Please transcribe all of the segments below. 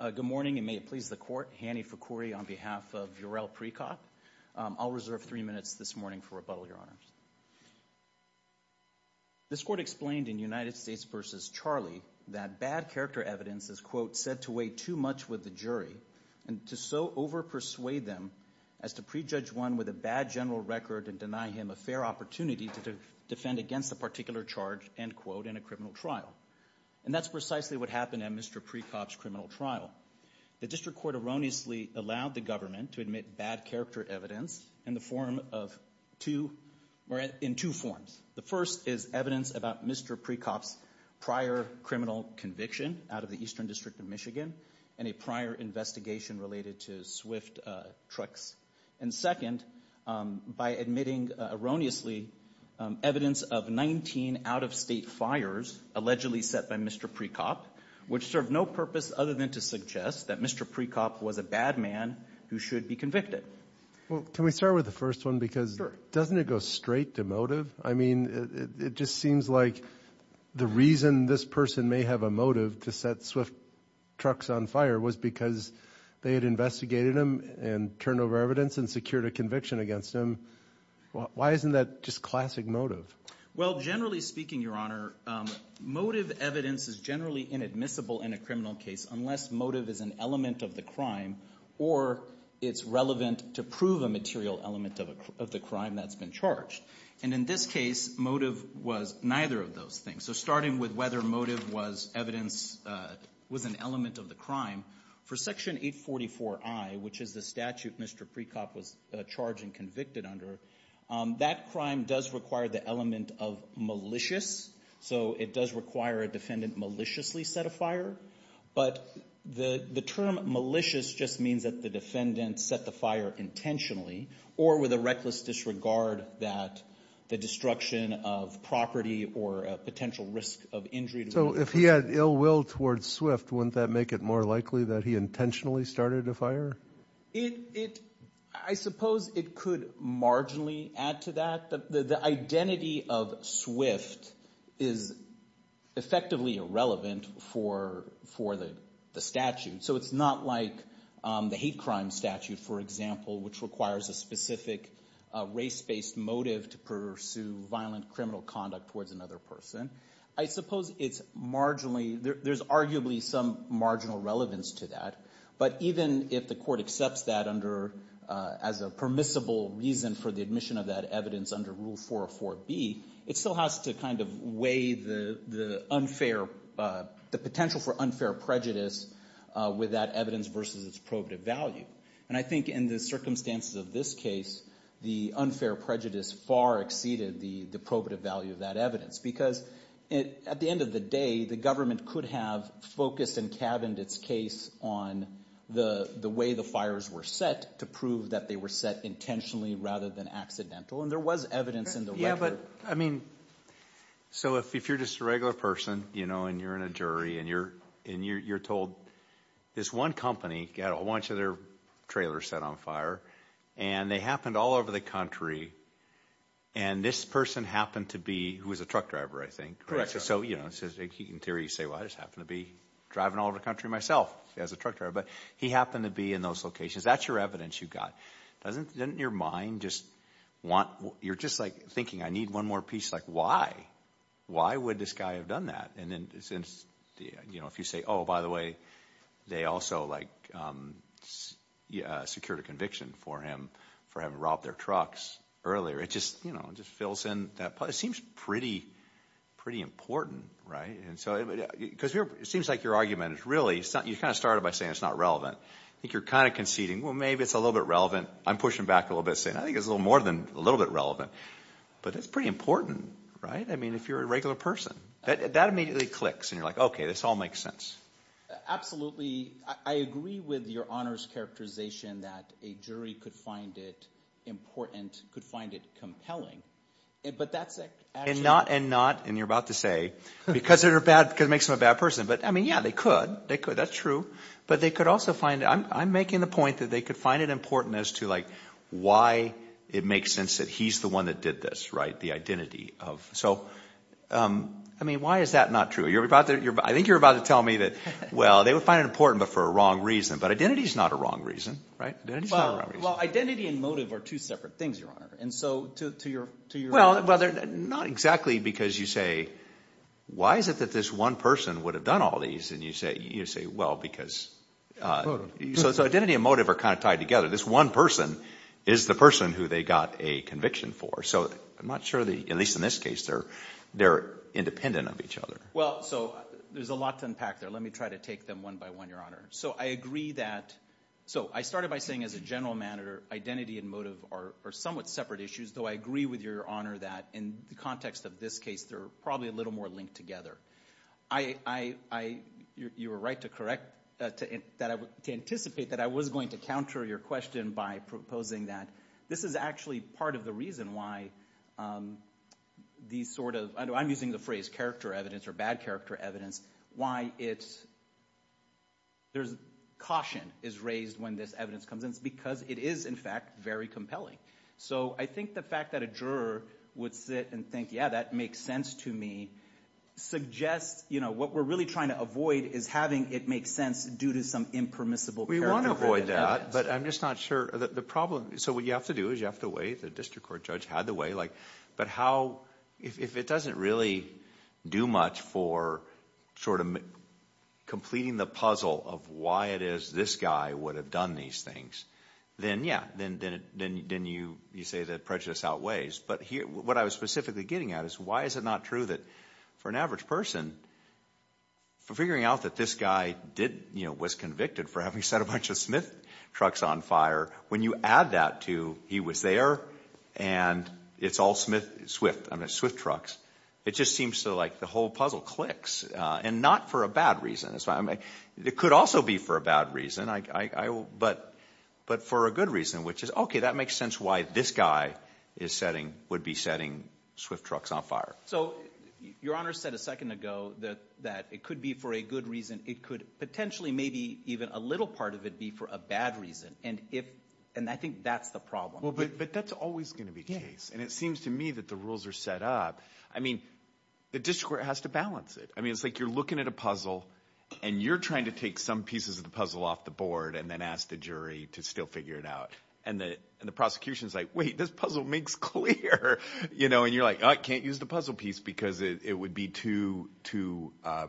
Good morning, and may it please the Court. This Court explained in United States v. Charlie that bad character evidence is, quote, said to weigh too much with the jury, and to so over-persuade them as to prejudge one with a bad general record and deny him a fair opportunity to defend against a particular charge, end quote, in a criminal trial. And that's precisely what happened at Mr. Pricop's criminal trial. The District Court erroneously allowed the government to admit bad character evidence in the form of two, or in two forms. The first is evidence about Mr. Pricop's prior criminal conviction out of the Eastern District of Michigan and a prior investigation related to Swift Trucks. And second, by admitting erroneously evidence of 19 out-of-state fires allegedly set by Mr. Pricop, which served no purpose other than to suggest that Mr. Pricop was a bad man who should be convicted. Well, can we start with the first one, because doesn't it go straight to motive? I mean, it just seems like the reason this person may have a motive to set Swift Trucks on fire was because they had investigated him and turned over evidence and secured a conviction against him. Why isn't that just classic motive? Well, generally speaking, Your Honor, motive evidence is generally inadmissible in a criminal case unless motive is an element of the crime or it's relevant to prove a material element of the crime that's been charged. And in this case, motive was neither of those things. So starting with whether motive was evidence, was an element of the crime, for Section 844i, which is the statute Mr. Pricop was charged and convicted under, that crime does require the element of malicious. So it does require a defendant maliciously set a fire. But the term malicious just means that the defendant set the fire intentionally or with a reckless disregard that the destruction of property or a potential risk of injury to the person. So if he had ill will towards Swift, wouldn't that make it more likely that he intentionally started a fire? I suppose it could marginally add to that. The identity of Swift is effectively irrelevant for the statute. So it's not like the hate crime statute, for example, which requires a specific race-based motive to pursue violent criminal conduct towards another person. I suppose it's marginally, there's arguably some marginal relevance to that. But even if the court accepts that as a permissible reason for the admission of that evidence under Rule 404B, it still has to kind of weigh the unfair, the potential for unfair prejudice with that evidence versus its probative value. And I think in the circumstances of this case, the unfair prejudice far exceeded the probative value of that evidence because at the end of the day, the government could have focused and cabined its case on the way the fires were set to prove that they were set intentionally rather than accidental. And there was evidence in the record. Yeah, but, I mean, so if you're just a regular person, you know, and you're in a jury, and you're told this one company got a bunch of their trailers set on fire, and they happened all over the country, and this person happened to be, who was a truck driver, I think, so you know, in theory you say, well I just happened to be driving all over the country myself as a truck driver. But he happened to be in those locations. That's your evidence you've got. Doesn't your mind just want, you're just like thinking, I need one more piece, like why? Why would this guy have done that? And then since, you know, if you say, oh, by the way, they also like secured a conviction for him for having robbed their trucks earlier, it just, you know, just fills in that part. It seems pretty, pretty important, right? And so, because it seems like your argument is really, you kind of started by saying it's not relevant. I think you're kind of conceding, well, maybe it's a little bit relevant. I'm pushing back a little bit, saying I think it's a little more than a little bit relevant. But it's pretty important, right? I mean, if you're a regular person, that immediately clicks, and you're like, okay, this all makes sense. Absolutely. I agree with your honors characterization that a jury could find it important, could find it compelling. But that's actually... And not, and not, and you're about to say, because they're bad, because it makes them a bad person. But I mean, yeah, they could. They could. But they would also find, I'm making the point that they could find it important as to, like, why it makes sense that he's the one that did this, right? The identity of, so, I mean, why is that not true? I think you're about to tell me that, well, they would find it important, but for a wrong reason. But identity is not a wrong reason, right? Identity is not a wrong reason. Well, identity and motive are two separate things, your honor. And so, to your... Well, not exactly, because you say, why is it that this one person would have done all these? And you say, well, because... So identity and motive are kind of tied together. This one person is the person who they got a conviction for. So I'm not sure that, at least in this case, they're independent of each other. Well, so there's a lot to unpack there. Let me try to take them one by one, your honor. So I agree that, so I started by saying as a general matter, identity and motive are somewhat separate issues. Though I agree with your honor that in the context of this case, they're probably a little more linked together. I, you were right to correct, to anticipate that I was going to counter your question by proposing that this is actually part of the reason why these sort of, I'm using the phrase character evidence or bad character evidence, why it's, there's caution is raised when this evidence comes in. It's because it is, in fact, very compelling. So I think the fact that a juror would sit and think, yeah, that makes sense to me, suggests what we're really trying to avoid is having it make sense due to some impermissible character evidence. We want to avoid that, but I'm just not sure, the problem, so what you have to do is you have to weigh, the district court judge had to weigh, but how, if it doesn't really do much for sort of completing the puzzle of why it is this guy would have done these things, then yeah, then you say that prejudice outweighs, but what I was specifically getting at is why is it not true that for an average person, for figuring out that this guy was convicted for having set a bunch of Smith trucks on fire, when you add that to he was there and it's all Swift trucks, it just seems to like the whole puzzle clicks and not for a bad reason. It could also be for a bad reason, but for a good reason, which is, okay, that makes sense why this guy would be setting Swift trucks on fire. So your honor said a second ago that it could be for a good reason, it could potentially maybe even a little part of it be for a bad reason, and I think that's the problem. Well, but that's always going to be the case, and it seems to me that the rules are set up. I mean, the district court has to balance it. I mean, it's like you're looking at a puzzle and you're trying to take some pieces of the puzzle off the board and then ask the jury to still figure it out, and the prosecution is like, wait, this puzzle makes clear, and you're like, oh, I can't use the puzzle piece because it would be too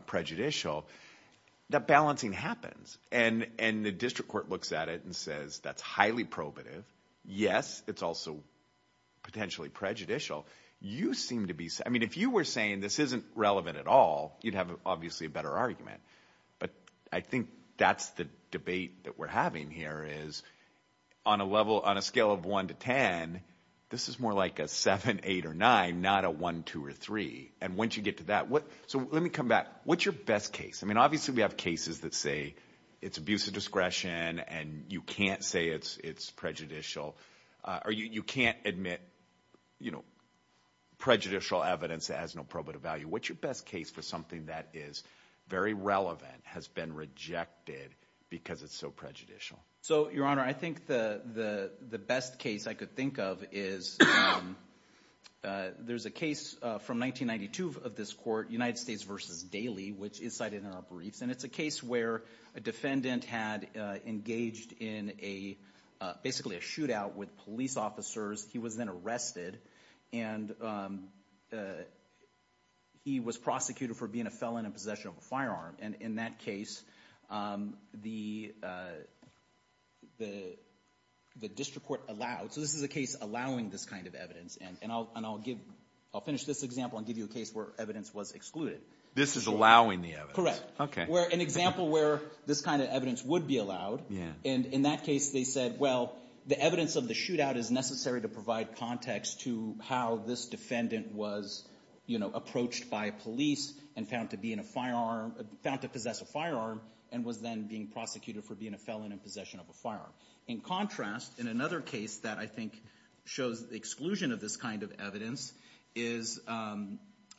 prejudicial. That balancing happens, and the district court looks at it and says, that's highly probative. Yes, it's also potentially prejudicial. You seem to be, I mean, if you were saying this isn't relevant at all, you'd have obviously a better argument, but I think that's the debate that we're having here is on a scale of one to ten, this is more like a seven, eight, or nine, not a one, two, or three, and once you get to that, so let me come back. What's your best case? I mean, obviously we have cases that say it's abuse of discretion and you can't say it's prejudicial, or you can't admit prejudicial evidence that has no probative value. What's your best case for something that is very relevant, has been rejected because it's so prejudicial? So, Your Honor, I think the best case I could think of is, there's a case from 1992 of this court, United States versus Daly, which is cited in our briefs, and it's a case where a defendant had engaged in basically a shootout with police officers, he was then arrested, and he was prosecuted for being a felon in possession of a firearm, and in that case, the district court allowed, so this is a case allowing this kind of evidence, and I'll finish this example and give you a case where evidence was excluded. This is allowing the evidence? Correct. Okay. An example where this kind of evidence would be allowed, and in that case they said, well, the evidence of the shootout is necessary to provide context to how this defendant was approached by police and found to possess a firearm, and was then being prosecuted for being a felon in possession of a firearm. In contrast, in another case that I think shows the exclusion of this kind of evidence is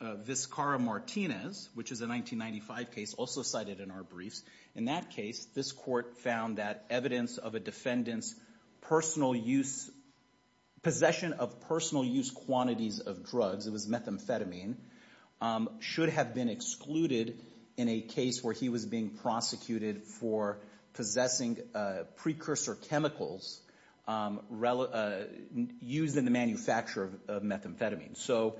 Vizcarra-Martinez, which is a 1995 case, also cited in our briefs. In that case, this court found that evidence of a defendant's personal use, possession of personal use quantities of drugs, it was methamphetamine, should have been excluded in a case where he was being prosecuted for possessing precursor chemicals used in the So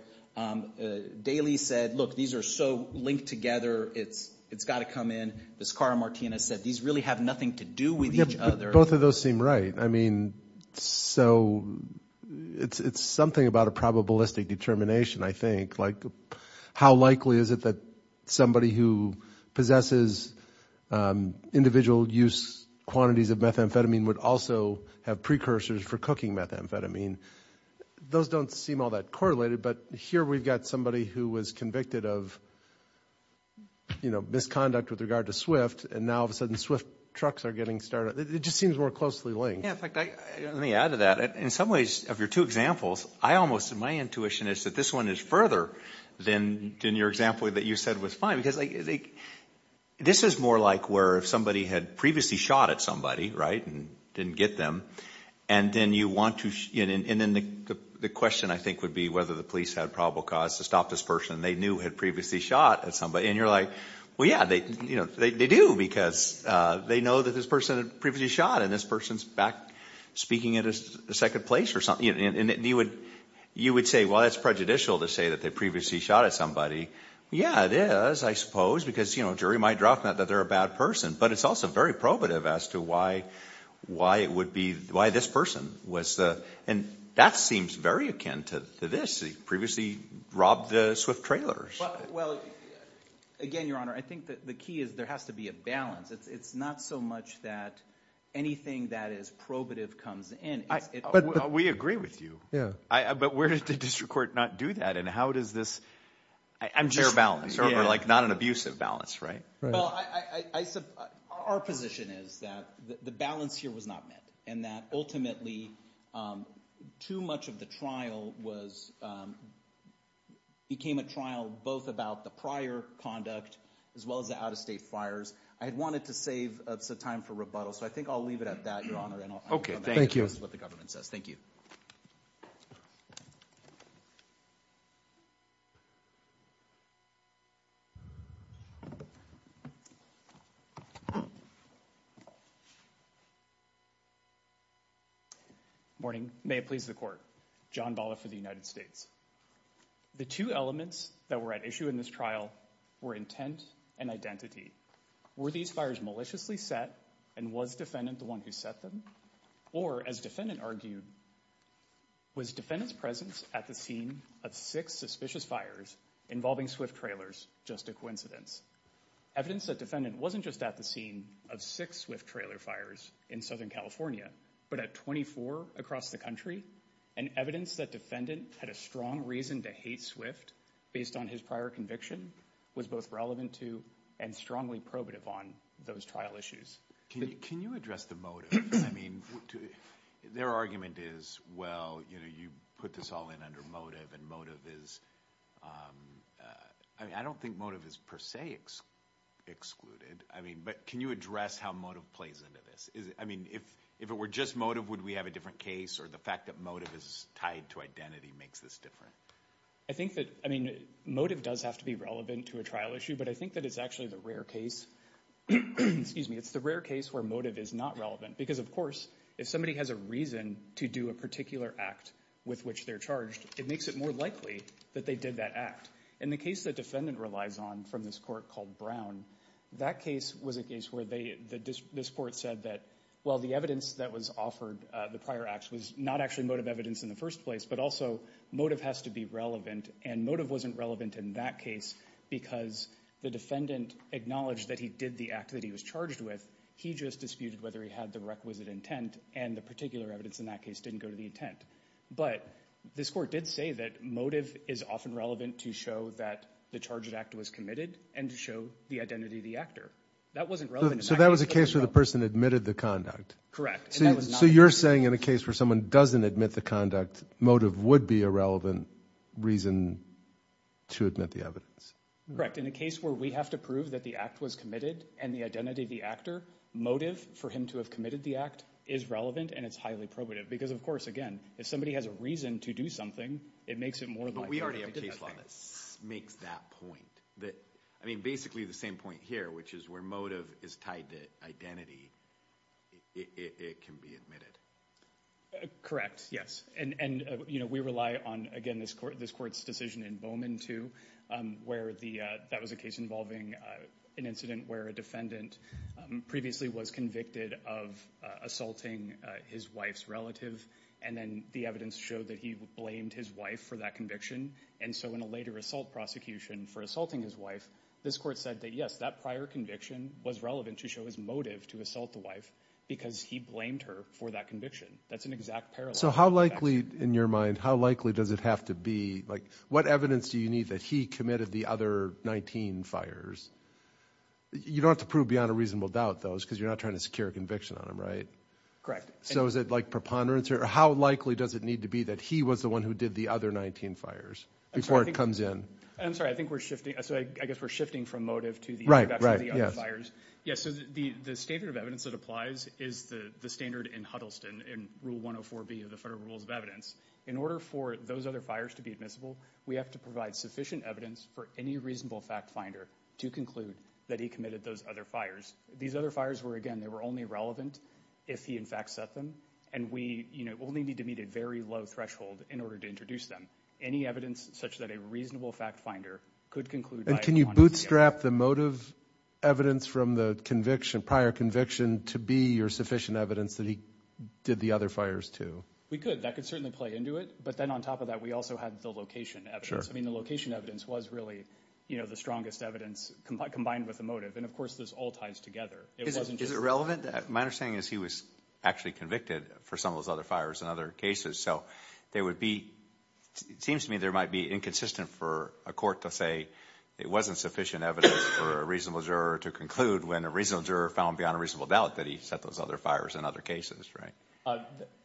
Daley said, look, these are so linked together, it's got to come in. Vizcarra-Martinez said, these really have nothing to do with each other. Both of those seem right. I mean, so it's something about a probabilistic determination, I think, like how likely is it that somebody who possesses individual use quantities of methamphetamine would also have precursors for cooking methamphetamine. Those don't seem all that correlated, but here we've got somebody who was convicted of misconduct with regard to Swift, and now, all of a sudden, Swift trucks are getting started. It just seems more closely linked. Yeah. In fact, let me add to that. In some ways, of your two examples, my intuition is that this one is further than your example that you said was fine, because this is more like where if somebody had previously shot at somebody, right, and didn't get them, and then the question, I think, would be whether the police had probable cause to stop this person they knew had previously shot at somebody, and you're like, well, yeah, they do, because they know that this person had previously shot, and this person's back speaking at a second place or something. You would say, well, that's prejudicial to say that they previously shot at somebody. Yeah, it is, I suppose, because a jury might drop that they're a bad person, but it's also very probative as to why it would be, why this person was, and that seems very akin to this. He previously robbed the Swift trailers. Well, again, Your Honor, I think that the key is there has to be a balance. It's not so much that anything that is probative comes in. We agree with you, but where did the district court not do that, and how does this, I'm just- Share balance, or like not an abusive balance, right? Well, our position is that the balance here was not met, and that ultimately, too much of the trial was, became a trial both about the prior conduct as well as the out-of-state fires. I had wanted to save some time for rebuttal, so I think I'll leave it at that, Your Honor, and I'll- Okay, thank you. This is what the government says. Thank you. Morning. May it please the court. John Bala for the United States. The two elements that were at issue in this trial were intent and identity. Were these fires maliciously set, and was defendant the one who set them? Or, as defendant argued, was defendant's presence at the scene of six suspicious fires involving Swift trailers just a coincidence? Evidence that defendant wasn't just at the scene of six Swift trailer fires in Southern California, but at 24 across the country, and evidence that defendant had a strong reason to hate Swift based on his prior conviction was both relevant to and strongly probative on those trial issues. Can you address the motive? Their argument is, well, you put this all in under motive, and motive is- I don't think motive is per se excluded, but can you address how motive plays into this? If it were just motive, would we have a different case, or the fact that motive is tied to identity makes this different? I think that motive does have to be relevant to a trial issue, but I think that it's actually the rare case where motive is not relevant, because of course, if somebody has a reason to do a particular act with which they're charged, it makes it more likely that they did that act. In the case that defendant relies on from this court called Brown, that case was a case where this court said that, well, the evidence that was offered, the prior acts, was not actually motive evidence in the first place, but also motive has to be relevant, and motive wasn't relevant in that case, because the defendant acknowledged that he did the act that he was charged with, he just disputed whether he had the requisite intent, and the particular evidence in that case didn't go to the intent. But this court did say that motive is often relevant to show that the charged act was committed, and to show the identity of the actor. That wasn't relevant- So that was a case where the person admitted the conduct? Correct. And that was not- So you're saying in a case where someone doesn't admit the conduct, motive would be a relevant reason to admit the evidence? In a case where we have to prove that the act was committed, and the identity of the actor, motive for him to have committed the act is relevant, and it's highly probative. Because of course, again, if somebody has a reason to do something, it makes it more likely that they did that thing. But we already have a case law that makes that point, that, I mean, basically the same point here, which is where motive is tied to identity, it can be admitted. Correct. Yes. And, you know, we rely on, again, this court's decision in Bowman too, where that was a case involving an incident where a defendant previously was convicted of assaulting his wife's relative, and then the evidence showed that he blamed his wife for that conviction. And so in a later assault prosecution for assaulting his wife, this court said that yes, that prior conviction was relevant to show his motive to assault the wife, because he blamed her for that conviction. That's an exact parallel- So how likely, in your mind, how likely does it have to be, like, what evidence do you need that he committed the other 19 fires? You don't have to prove beyond a reasonable doubt, though, because you're not trying to secure a conviction on him, right? Correct. So is it like preponderance, or how likely does it need to be that he was the one who did the other 19 fires before it comes in? I'm sorry, I think we're shifting, so I guess we're shifting from motive to the other fires. Right, right, yes. Yes, so the standard of evidence that applies is the standard in Huddleston in Rule 104b of the Federal Rules of Evidence. In order for those other fires to be admissible, we have to provide sufficient evidence for any reasonable fact finder to conclude that he committed those other fires. These other fires were, again, they were only relevant if he, in fact, set them, and we, you know, only need to meet a very low threshold in order to introduce them. Any evidence such that a reasonable fact finder could conclude by- And can you bootstrap the motive evidence from the conviction, prior conviction, to be your sufficient evidence that he did the other fires to? We could, that could certainly play into it, but then on top of that, we also had the location evidence. I mean, the location evidence was really, you know, the strongest evidence combined with the motive. And of course, this all ties together. It wasn't just- Is it relevant? My understanding is he was actually convicted for some of those other fires in other cases, so there would be, it seems to me there might be inconsistent for a court to say it wasn't sufficient evidence for a reasonable juror to conclude when a reasonable juror found beyond a reasonable doubt that he set those other fires in other cases, right?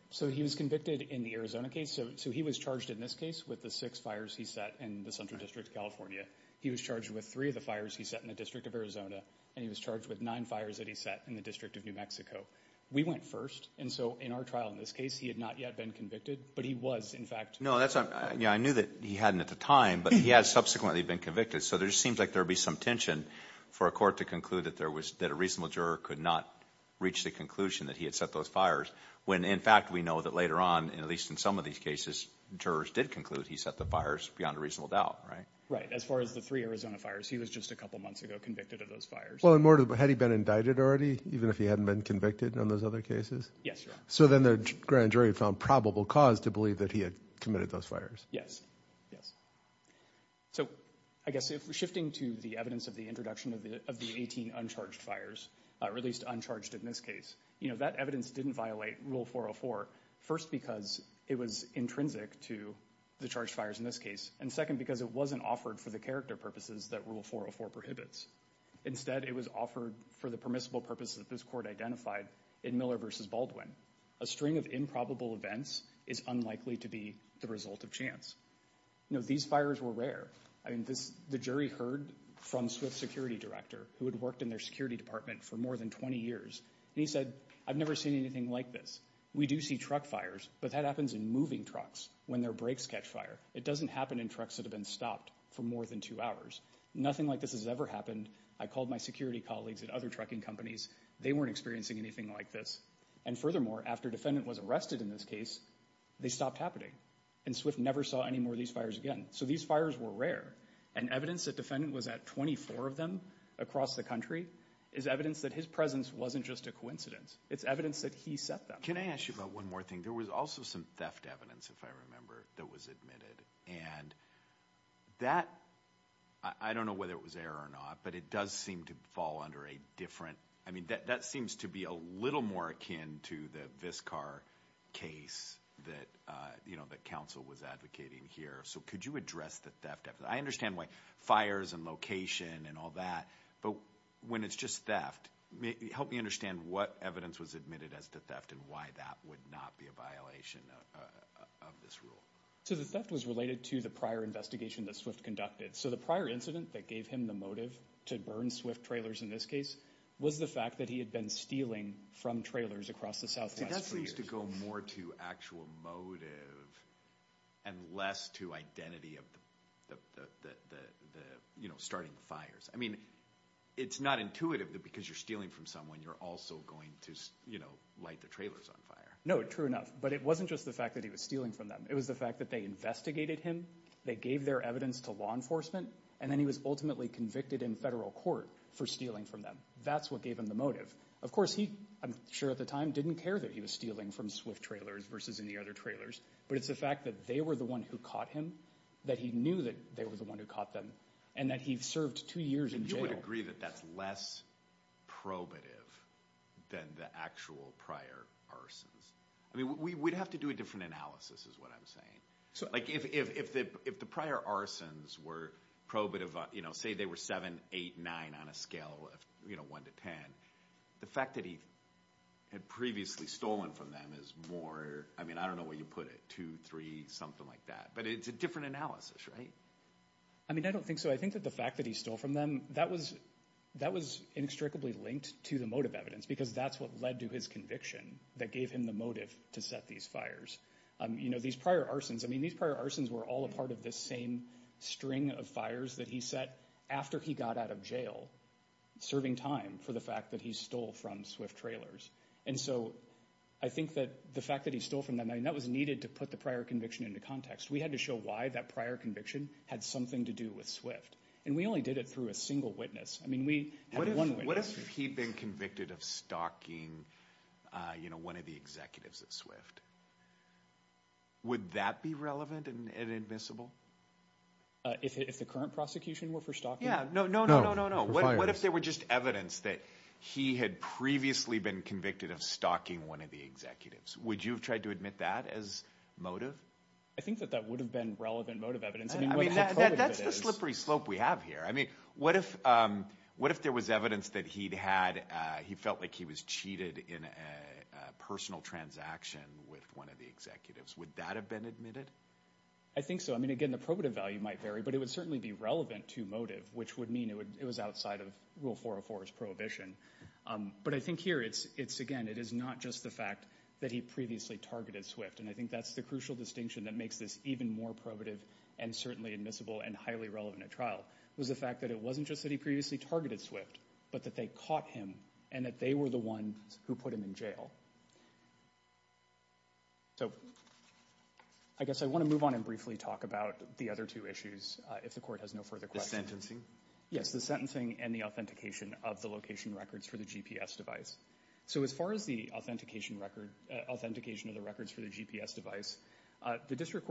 So he was convicted in the Arizona case, so he was charged in this case with the six fires he set in the Central District of California. He was charged with three of the fires he set in the District of Arizona, and he was charged with nine fires that he set in the District of New Mexico. We went first, and so in our trial in this case, he had not yet been convicted, but he was, in fact- No, that's not, you know, I knew that he hadn't at the time, but he has subsequently been convicted, so there seems like there would be some tension for a court to conclude that there was, that a reasonable juror could not reach the conclusion that he had set those fires when, in fact, we know that later on, at least in some of these cases, jurors did conclude he set the fires beyond a reasonable doubt, right? Right, as far as the three Arizona fires, he was just a couple months ago convicted of those fires. Well, and more to the, had he been indicted already, even if he hadn't been convicted in those other cases? Yes, Your Honor. So then the grand jury found probable cause to believe that he had committed those fires? Yes, yes. So, I guess if we're shifting to the evidence of the introduction of the 18 uncharged fires, released uncharged in this case, you know, that evidence didn't violate Rule 404, first because it was intrinsic to the charged fires in this case, and second because it wasn't offered for the character purposes that Rule 404 prohibits. Instead, it was offered for the permissible purposes that this court identified in Miller v. Baldwin. A string of improbable events is unlikely to be the result of chance. You know, these fires were rare. I mean, the jury heard from Swift's security director, who had worked in their security department for more than 20 years, and he said, I've never seen anything like this. We do see truck fires, but that happens in moving trucks when their brakes catch fire. It doesn't happen in trucks that have been stopped for more than two hours. Nothing like this has ever happened. I called my security colleagues at other trucking companies. They weren't experiencing anything like this. And furthermore, after a defendant was arrested in this case, they stopped happening. And Swift never saw any more of these fires again. So these fires were rare. And evidence that the defendant was at 24 of them across the country is evidence that his presence wasn't just a coincidence. It's evidence that he set them. Can I ask you about one more thing? There was also some theft evidence, if I remember, that was admitted, and that, I don't know whether it was error or not, but it does seem to fall under a different, I mean that seems to be a little more akin to the Viscar case that, you know, that counsel was advocating here. So could you address the theft? I understand why fires and location and all that, but when it's just theft, help me understand what evidence was admitted as to theft and why that would not be a violation of this rule. So the theft was related to the prior investigation that Swift conducted. So the prior incident that gave him the motive to burn Swift trailers in this case was the fact that he had been stealing from trailers across the Southwest for years. See, that seems to go more to actual motive and less to identity of the, you know, starting the fires. I mean, it's not intuitive that because you're stealing from someone, you're also going to, you know, light the trailers on fire. No, true enough. But it wasn't just the fact that he was stealing from them. It was the fact that they investigated him, they gave their evidence to law enforcement, and then he was ultimately convicted in federal court for stealing from them. That's what gave him the motive. Of course, he, I'm sure at the time, didn't care that he was stealing from Swift trailers versus any other trailers, but it's the fact that they were the one who caught him, that he knew that they were the one who caught them, and that he served two years in jail. And you would agree that that's less probative than the actual prior arsons? I mean, we'd have to do a different analysis is what I'm saying. Like, if the prior arsons were probative, you know, say they were 7, 8, 9 on a scale of, you know, 1 to 10, the fact that he had previously stolen from them is more, I mean, I don't know where you put it, 2, 3, something like that, but it's a different analysis, right? I mean, I don't think so. I think that the fact that he stole from them, that was inextricably linked to the motive evidence because that's what led to his conviction that gave him the motive to set these fires. You know, these prior arsons, I mean, these prior arsons were all a part of this same string of fires that he set after he got out of jail, serving time for the fact that he stole from Swift trailers. And so, I think that the fact that he stole from them, I mean, that was needed to put the prior conviction into context. We had to show why that prior conviction had something to do with Swift, and we only did it through a single witness. I mean, we had one witness. What if he'd been convicted of stalking, you know, one of the executives at Swift? Would that be relevant and admissible? If the current prosecution were for stalking? Yeah, no, no, no, no, no, no. What if there were just evidence that he had previously been convicted of stalking one of the executives? Would you have tried to admit that as motive? I think that that would have been relevant motive evidence. I mean, what if it's not? That's the slippery slope we have here. I mean, what if there was evidence that he'd had, he felt like he was cheated in a personal transaction with one of the executives? Would that have been admitted? I think so. I mean, again, the probative value might vary, but it would certainly be relevant to motive, which would mean it was outside of Rule 404's prohibition. But I think here, it's, again, it is not just the fact that he previously targeted Swift, and I think that's the crucial distinction that makes this even more probative and certainly admissible and highly relevant at trial. It was the fact that it wasn't just that he previously targeted Swift, but that they caught him, and that they were the ones who put him in jail. So I guess I want to move on and briefly talk about the other two issues, if the Court has no further questions. Yes, the sentencing and the authentication of the location records for the GPS device. So as far as the authentication record, authentication of the records for the GPS device, the District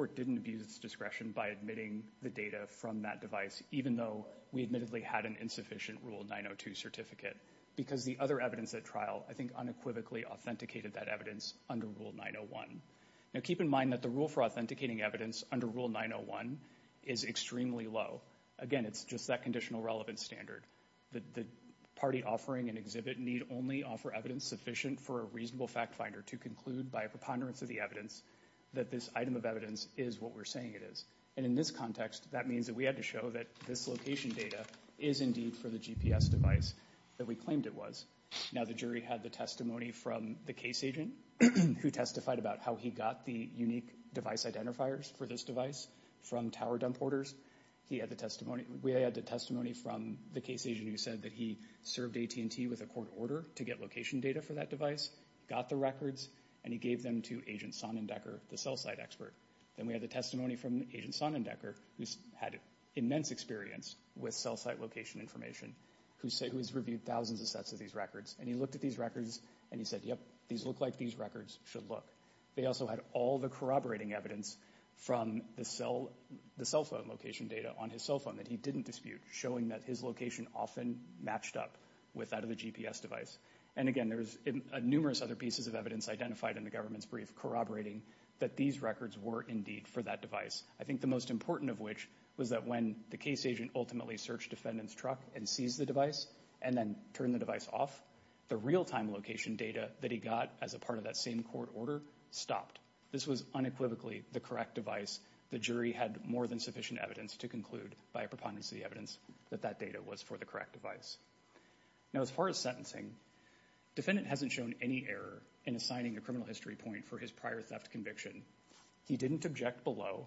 even though we admittedly had an insufficient Rule 902 certificate, because the other evidence at trial, I think, unequivocally authenticated that evidence under Rule 901. Now, keep in mind that the rule for authenticating evidence under Rule 901 is extremely low. Again, it's just that conditional relevance standard. The party offering an exhibit need only offer evidence sufficient for a reasonable factfinder to conclude by a preponderance of the evidence that this item of evidence is what we're saying it is. And in this context, that means that we had to show that this location data is indeed for the GPS device that we claimed it was. Now, the jury had the testimony from the case agent who testified about how he got the unique device identifiers for this device from tower dump orders. He had the testimony, we had the testimony from the case agent who said that he served AT&T with a court order to get location data for that device, got the records, and he gave them to Agent Sonnendecker, the cell site expert. Then we had the testimony from Agent Sonnendecker, who's had immense experience with cell site location information, who has reviewed thousands of sets of these records, and he looked at these records and he said, yep, these look like these records should look. They also had all the corroborating evidence from the cell phone location data on his cell phone that he didn't dispute, showing that his location often matched up with that of the GPS device. And again, there's numerous other pieces of evidence identified in the government's brief corroborating that these records were indeed for that device, I think the most important of which was that when the case agent ultimately searched defendant's truck and seized the device and then turned the device off, the real-time location data that he got as a part of that same court order stopped. This was unequivocally the correct device. The jury had more than sufficient evidence to conclude by a preponderance of the evidence that that data was for the correct device. Now, as far as sentencing, defendant hasn't shown any error in assigning a criminal history point for his prior theft conviction. He didn't object below,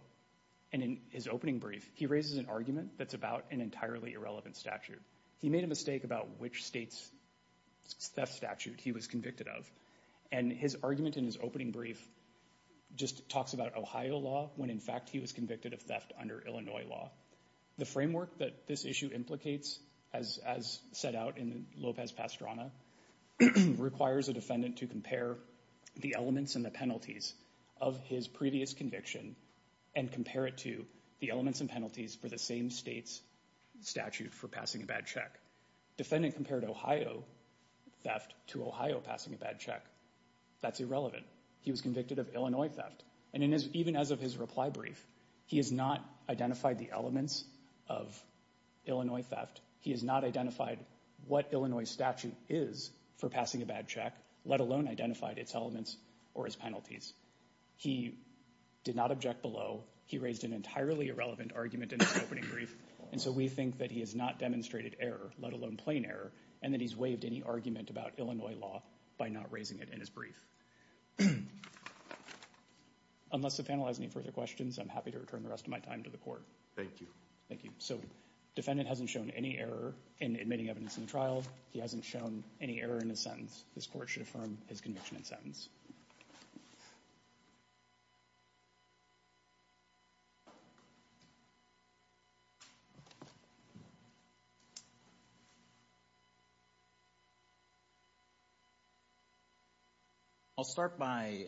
and in his opening brief, he raises an argument that's about an entirely irrelevant statute. He made a mistake about which state's theft statute he was convicted of, and his argument in his opening brief just talks about Ohio law, when in fact he was convicted of theft under Illinois law. The framework that this issue implicates, as set out in Lopez-Pastrana, requires a defendant to compare the elements and the penalties of his previous conviction and compare it to the elements and penalties for the same state's statute for passing a bad check. Defendant compared Ohio theft to Ohio passing a bad check. That's irrelevant. He was convicted of Illinois theft, and even as of his reply brief, he has not identified the elements of Illinois theft. He has not identified what Illinois statute is for passing a bad check, let alone identified its elements or its penalties. He did not object below. He raised an entirely irrelevant argument in his opening brief, and so we think that he has not demonstrated error, let alone plain error, and that he's waived any argument about Illinois law by not raising it in his brief. Unless the panel has any further questions, I'm happy to return the rest of my time to the court. Thank you. Thank you. So, defendant hasn't shown any error in admitting evidence in the trial. He hasn't shown any error in his sentence. This court should affirm his conviction and sentence. I'll start by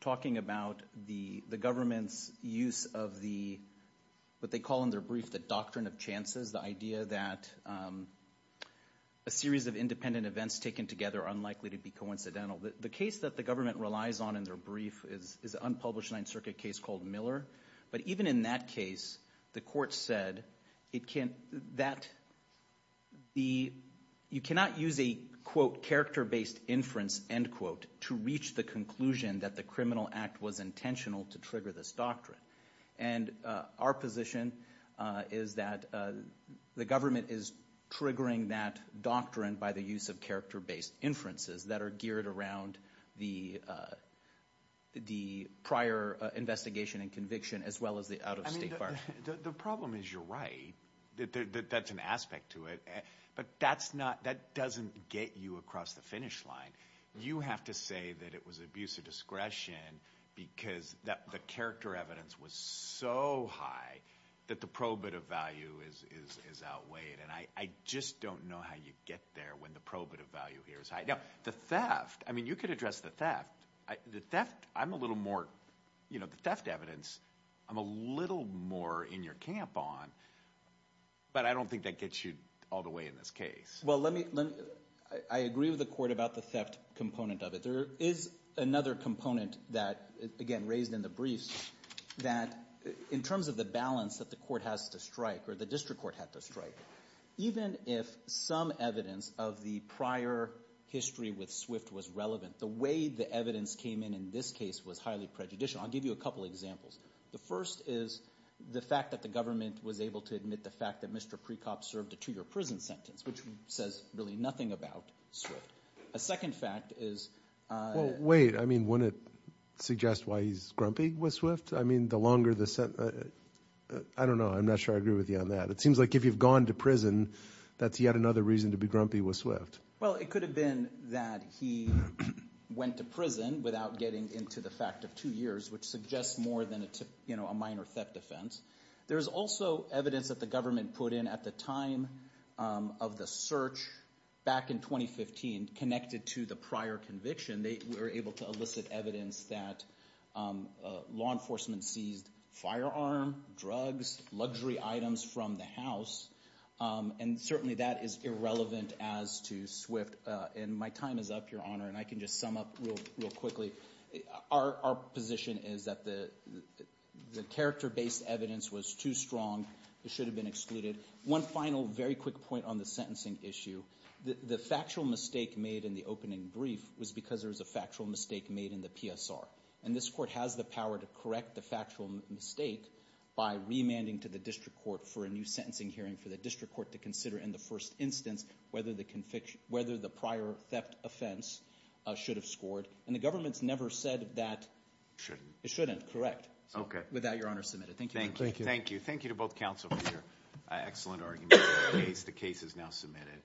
talking about the government's use of what they call in their brief the doctrine of chances, the idea that a series of independent events taken together are unlikely to be coincidental The case that the government relies on in their brief is an unpublished Ninth Circuit case called Miller, but even in that case, the court said that you cannot use a quote character-based inference end quote to reach the conclusion that the criminal act was intentional to trigger this doctrine. And our position is that the government is triggering that doctrine by the use of character-based inferences that are geared around the prior investigation and conviction as well as the out-of-state part. I mean, the problem is you're right, that's an aspect to it, but that doesn't get you across the finish line. You have to say that it was abuse of discretion because the character evidence was so high that the probative value is outweighed, and I just don't know how you get there when the probative value here is high. Now, the theft, I mean, you could address the theft, I'm a little more, you know, the theft evidence, I'm a little more in your camp on, but I don't think that gets you all the way in this case. Well, let me, I agree with the court about the theft component of it. There is another component that, again, raised in the briefs, that in terms of the balance that the court has to strike or the district court had to strike, even if some evidence of the prior history with Swift was relevant, the way the evidence came in in this case was highly prejudicial. I'll give you a couple examples. The first is the fact that the government was able to admit the fact that Mr. Precop served a two-year prison sentence, which says really nothing about Swift. A second fact is... Well, wait, I mean, wouldn't it suggest why he's grumpy with Swift? I mean, the longer the sentence... I don't know, I'm not sure I agree with you on that. It seems like if you've gone to prison, that's yet another reason to be grumpy with Swift. Well, it could have been that he went to prison without getting into the fact of two years, which suggests more than a minor theft offense. There's also evidence that the government put in at the time of the search back in 2015 connected to the prior conviction. They were able to elicit evidence that law enforcement seized firearm, drugs, luxury items from the house. And certainly that is irrelevant as to Swift. And my time is up, Your Honor, and I can just sum up real quickly. Our position is that the character-based evidence was too strong, it should have been excluded. One final, very quick point on the sentencing issue. The factual mistake made in the opening brief was because there was a factual mistake made in the PSR. And this court has the power to correct the factual mistake by remanding to the district court for a new sentencing hearing for the district court to consider in the first instance whether the prior theft offense should have scored. And the government's never said that it shouldn't, correct? Without Your Honor's submission. Thank you. Thank you. Thank you to both counsel for your excellent argument. The case is now submitted.